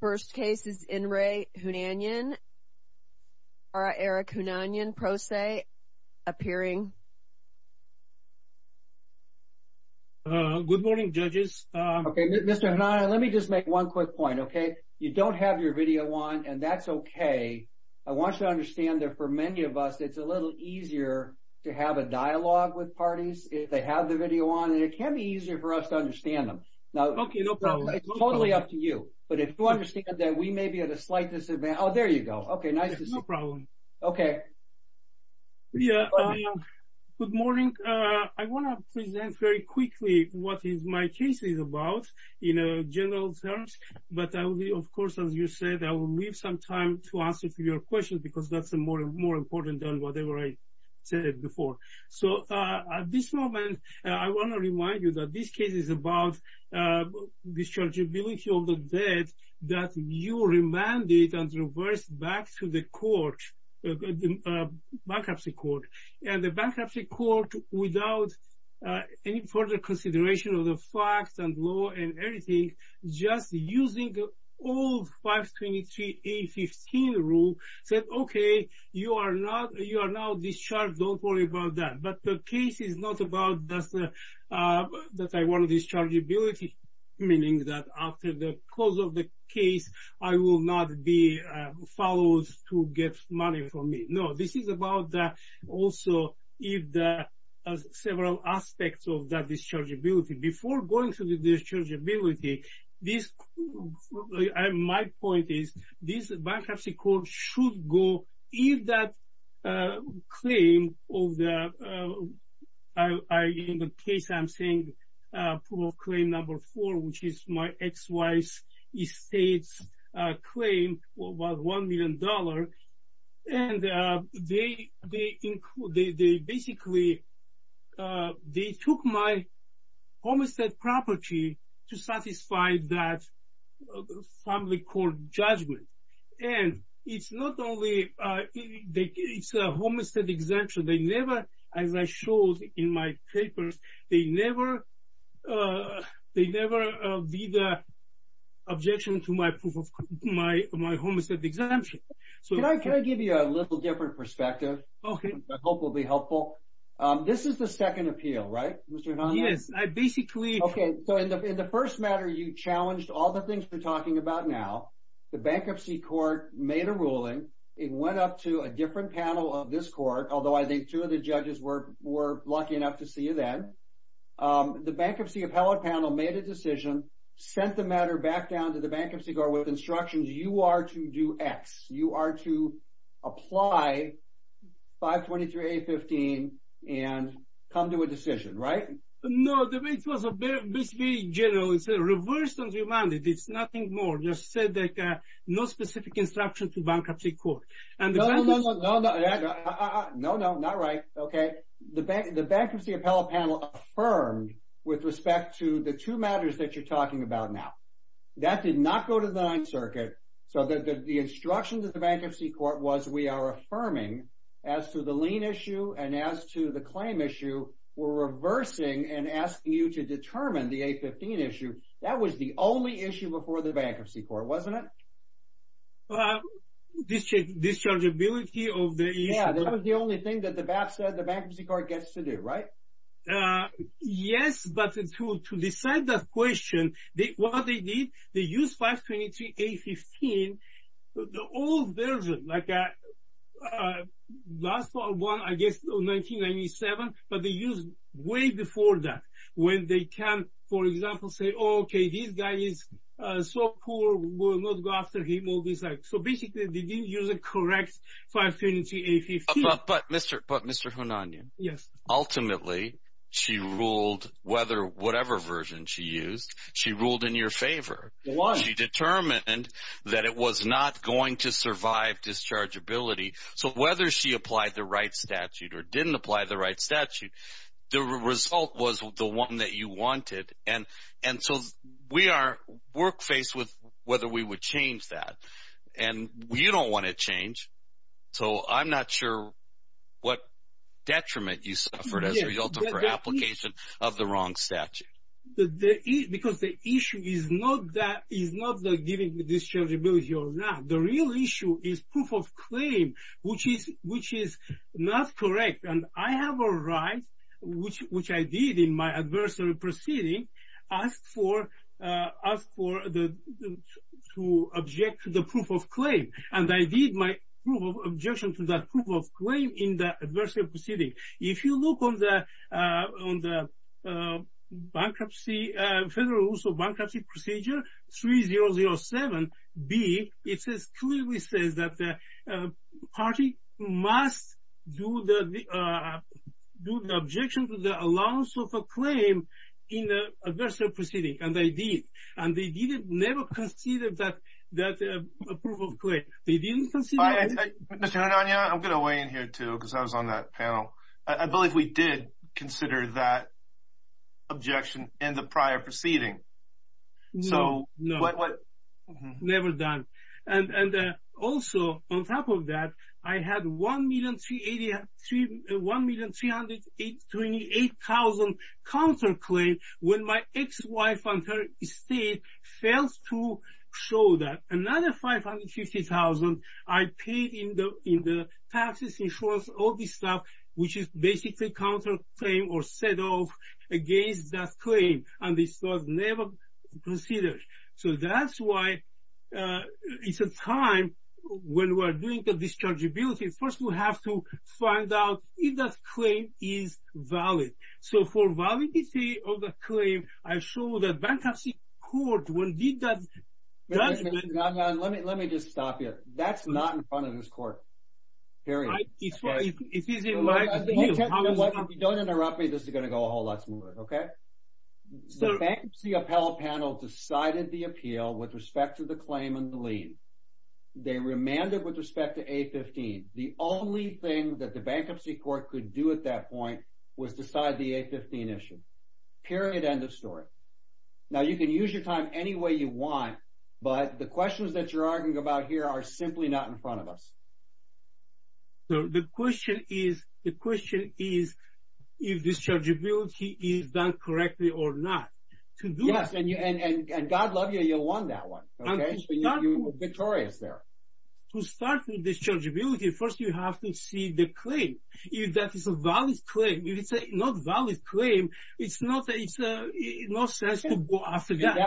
First case is in re. Hunanyan. Eric Hunanyan, Pro Se, appearing. Good morning, judges. Okay, Mr. Hunanyan, let me just make one quick point, okay? You don't have your video on, and that's okay. I want you to understand that for many of us, it's a little easier to have a dialogue with parties if they have the video on, and it can be easier for us to understand them. Okay, no problem. It's totally up to you. But if you understand that we may be at a slight disadvantage. Oh, there you go. Okay, nice to see you. No problem. Okay. Yeah, good morning. I want to present very quickly what my case is about in general terms, but I will, of course, as you said, I will leave some time to answer your questions because that's more important than whatever I said before. So at this moment, I want to remind you that this case is about dischargeability of the debt that you remanded and reversed back to the court, bankruptcy court. And the bankruptcy court, without any further consideration of the facts and law and everything, just using old 523A15 rule, said, okay, you are now discharged. Don't worry about that. But the case is not about that I want dischargeability, meaning that after the close of the case I will not be followed to get money from me. No, this is about also if the several aspects of that dischargeability. Before going to the dischargeability, my point is this bankruptcy court should go, if that claim of the, in the case I'm saying, proof of claim number four, which is my ex-wife's estate's claim was $1 million. And they basically, they took my homestead property to satisfy that family court judgment. And it's not only, it's a homestead exemption. They never, as I showed in my papers, they never be the objection to my proof of my homestead exemption. Can I give you a little different perspective? Okay. I hope it will be helpful. This is the second appeal, right, Mr. Hanna? Yes. I basically. Okay. So in the first matter, you challenged all the things we're talking about now. The bankruptcy court made a ruling. It went up to a different panel of this court, although I think two of the judges were lucky enough to see you then. The bankruptcy appellate panel made a decision, sent the matter back down to the bankruptcy court with instructions. You are to do X. You are to apply 523A15 and come to a decision, right? No. It was basically general. It's a reverse on demand. It's nothing more. Just said that no specific instruction to bankruptcy court. No, no, no. No, no. Not right. Okay. The bankruptcy appellate panel affirmed with respect to the two matters that you're talking about now. That did not go to the Ninth Circuit. Okay. So the instruction to the bankruptcy court was we are affirming as to the lien issue and as to the claim issue, we're reversing and asking you to determine the A15 issue. That was the only issue before the bankruptcy court, wasn't it? Dischargeability of the issue. Yeah. That was the only thing that the BAP said the bankruptcy court gets to do, right? Yes, but to decide that question, what they did, they used 523A15, the old version, like the last one I guess in 1997, but they used way before that when they can, for example, say, oh, okay, this guy is so cool, we'll not go after him. So basically they didn't use a correct 523A15. But Mr. Hunanian. Yes. Ultimately she ruled whether whatever version she used, she ruled in your favor. She determined that it was not going to survive dischargeability. So whether she applied the right statute or didn't apply the right statute, the result was the one that you wanted. And so we are work-faced with whether we would change that. And you don't want to change. So I'm not sure what detriment you suffered as a result of her application of the wrong statute. Because the issue is not that giving dischargeability or not. The real issue is proof of claim, which is not correct. And I have a right, which I did in my adversary proceeding, as for to object to the proof of claim. And I did my objection to that proof of claim in the adversary proceeding. If you look on the bankruptcy, Federal Rules of Bankruptcy Procedure 3007B, it clearly says that the party must do the objection to the allowance of a claim in the adversary proceeding. And they did. And they never considered that proof of claim. They didn't consider it. Mr. Hunania, I'm going to weigh in here, too, because I was on that panel. I believe we did consider that objection in the prior proceeding. No. Never done. And also, on top of that, I had $1,328,000 counterclaim when my ex-wife and her estate failed to show that. Another $550,000 I paid in the taxes, insurance, all this stuff, which is basically counterclaim or set off against that claim. And this was never considered. So that's why it's a time, when we're doing the dischargeability, first we have to find out if that claim is valid. So for validity of the claim, I show that bankruptcy court, when we did that judgment. Wait a minute. Let me just stop you. That's not in front of this court. Period. If he's in my view, how is that? If you don't interrupt me, this is going to go a whole lot smoother, okay? The bankruptcy appellate panel decided the appeal with respect to the claim and the lien. They remanded with respect to A15. The only thing that the bankruptcy court could do at that point was decide the A15 issue. Period. End of story. Now you can use your time any way you want, but the questions that you're arguing about here are simply not in front of us. The question is if dischargeability is done correctly or not. Yes, and God love you, you won that one. You were victorious there. To start with dischargeability, first you have to see the claim. If that is a valid claim. If it's not a valid claim, it's no sense to go after that.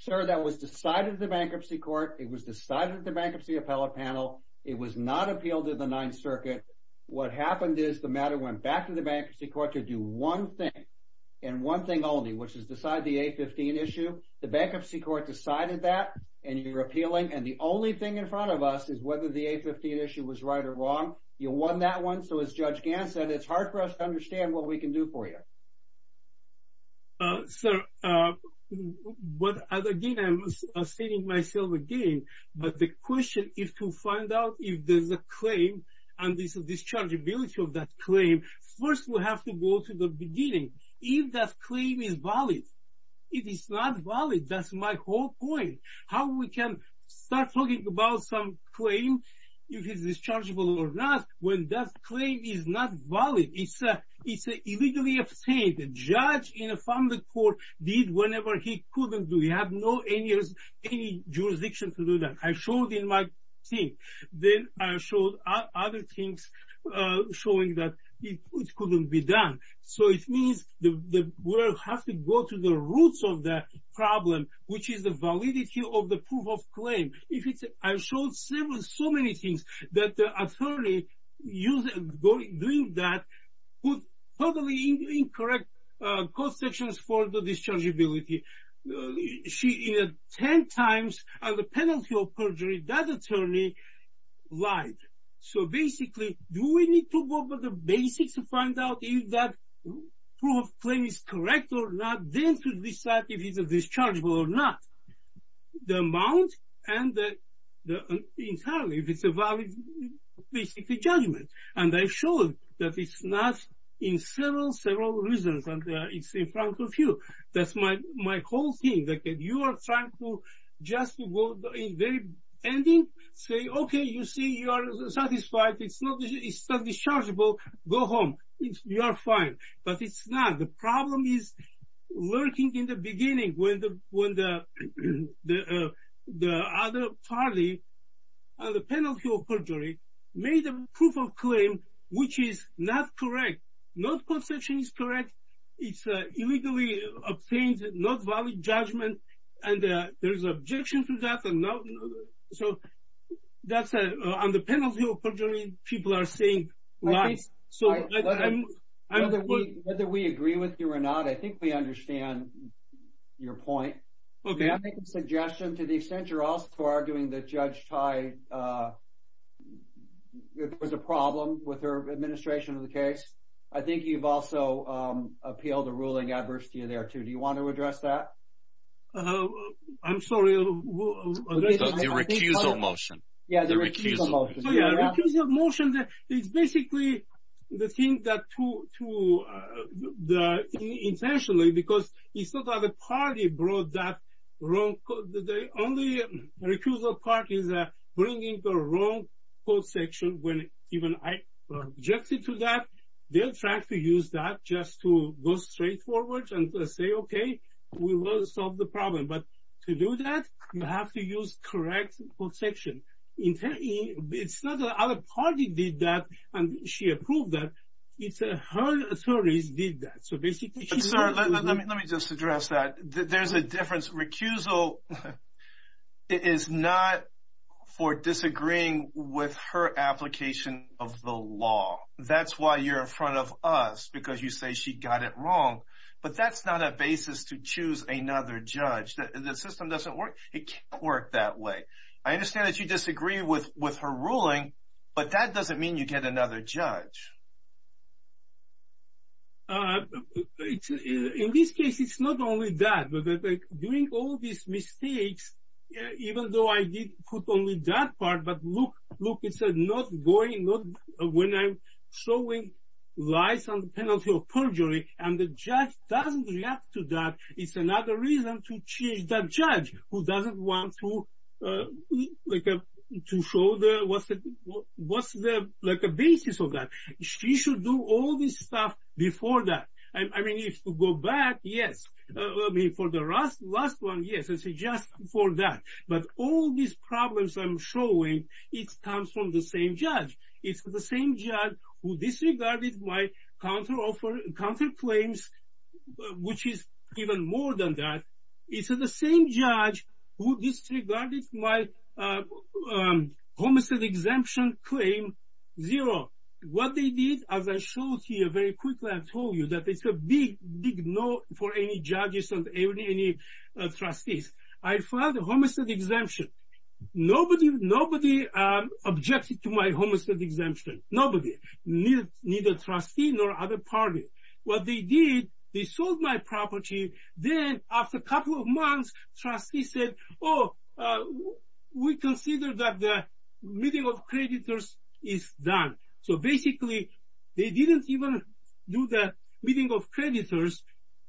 Sir, that was decided at the bankruptcy court. It was decided at the bankruptcy appellate panel. It was not appealed to the Ninth Circuit. What happened is the matter went back to the bankruptcy court to do one thing and one thing only, which is decide the A15 issue. The bankruptcy court decided that, and you're appealing, and the only thing in front of us is whether the A15 issue was right or wrong. You won that one. So as Judge Gant said, it's hard for us to understand what we can do for you. Sir, but again, I'm saying myself again, but the question is to find out if there's a claim and there's a dischargeability of that claim. First we have to go to the beginning. If that claim is valid. If it's not valid, that's my whole point. How we can start talking about some claim, if it's dischargeable or not, when that claim is not valid. It's illegally obtained. A judge in a family court did whatever he couldn't do. You have no jurisdiction to do that. I showed in my thing. Then I showed other things showing that it couldn't be done. So it means we have to go to the roots of the problem, which is the validity of the proof of claim. I showed so many things that the attorney doing that put totally incorrect cost sections for the dischargeability. She, in 10 times of the penalty of perjury, that attorney lied. So basically, do we need to go over the basics to find out if that proof of claim is correct or not? Then to decide if it's dischargeable or not. The amount and entirely, if it's a valid basic judgment. And I showed that it's not in several, several reasons. It's in front of you. That's my whole thing. You are trying to just go to the very ending, say, okay, you see, you are satisfied, it's not dischargeable, go home. You are fine. But it's not. The problem is lurking in the beginning when the other party on the penalty of perjury made a proof of claim which is not correct. Not cost section is correct. It's illegally obtained, not valid judgment. And there's objection to that. So on the penalty of perjury, people are saying lies. So whether we agree with you or not, I think we understand your point. Okay. I make a suggestion to the extent you're also arguing that Judge Thai was a problem with her administration of the case. I think you've also appealed a ruling adverse to you there too. Do you want to address that? I'm sorry. The recusal motion. Yeah, the recusal motion. The recusal motion is basically the thing that intentionally, because it's not that the party brought that wrong, the only recusal part is bringing the wrong cost section when even I objected to that. They are trying to use that just to go straightforward and say, okay, we will solve the problem. But to do that, you have to use correct cost section. It's not that other party did that and she approved that. It's her authorities did that. Let me just address that. There's a difference. Recusal is not for disagreeing with her application of the law. That's why you're in front of us because you say she got it wrong. But that's not a basis to choose another judge. The system doesn't work. It can't work that way. I understand that you disagree with her ruling, but that doesn't mean you get another judge. In this case, it's not only that. During all these mistakes, even though I did put only that part, but look, it says not going, when I'm showing lies on the penalty of perjury and the judge doesn't react to that, it's another reason to change that judge who doesn't want to show what's the basis of that. She should do all this stuff before that. I mean, if you go back, yes. For the last one, yes, it's just for that. But all these problems I'm showing, it comes from the same judge. It's the same judge who disregarded my counter claims, which is even more than that. It's the same judge who disregarded my homicide exemption claim. Zero. What they did, as I showed here very quickly, I told you that it's a big, big no for any judges and any trustees. I filed a homicide exemption. Nobody objected to my homicide exemption. Nobody. Neither trustee nor other party. What they did, they sold my property. Then after a couple of months, trustee said, oh, we consider that the meeting of creditors is done. So basically, they didn't even do the meeting of creditors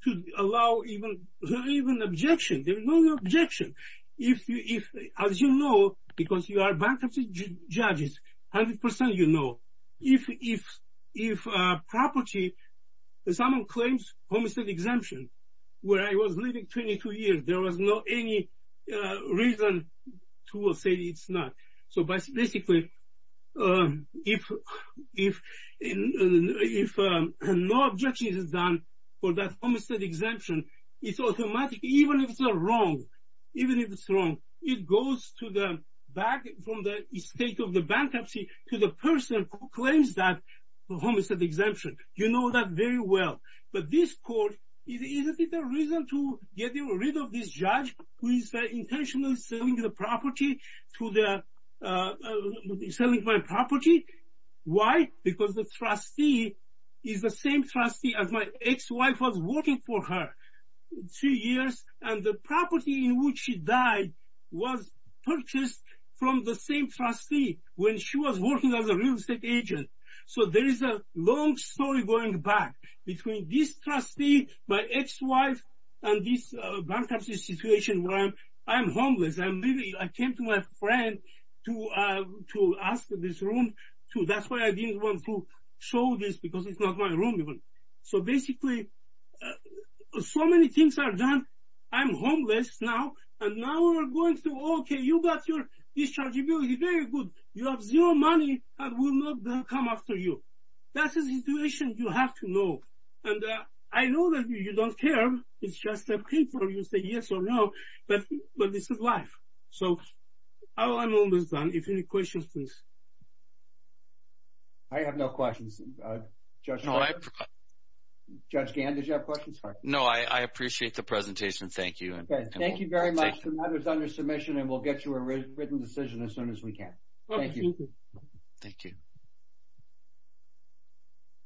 to allow even objection. There was no objection. As you know, because you are bankruptcy judges, 100% you know, if property, someone claims homicide exemption, where I was living 22 years, there was not any reason to say it's not. So basically, if no objection is done for that homicide exemption, it's automatically, even if it's wrong, even if it's wrong, it goes back from the state of the bankruptcy to the person who claims that homicide exemption. You know that very well. But this court, is it a reason to get rid of this judge who is intentionally selling my property? Why? Because the trustee is the same trustee as my ex-wife was working for her two years. And the property in which she died was purchased from the same trustee when she was working as a real estate agent. So there is a long story going back between this trustee, my ex-wife, and this bankruptcy situation where I'm homeless. I came to my friend to ask for this room. That's why I didn't want to show this, because it's not my room even. So basically, so many things are done. I'm homeless now. And now we're going through, OK, you've got your dischargeability. Very good. You have zero money. I will not come after you. That's a situation you have to know. And I know that you don't care. It's just a paper. You say yes or no. But this is life. So I'm homeless now. If you have any questions, please. I have no questions. Judge Gann, did you have questions for me? No, I appreciate the presentation. Thank you. Thank you very much. The matter is under submission, and we'll get you a written decision as soon as we can. Thank you. Thank you.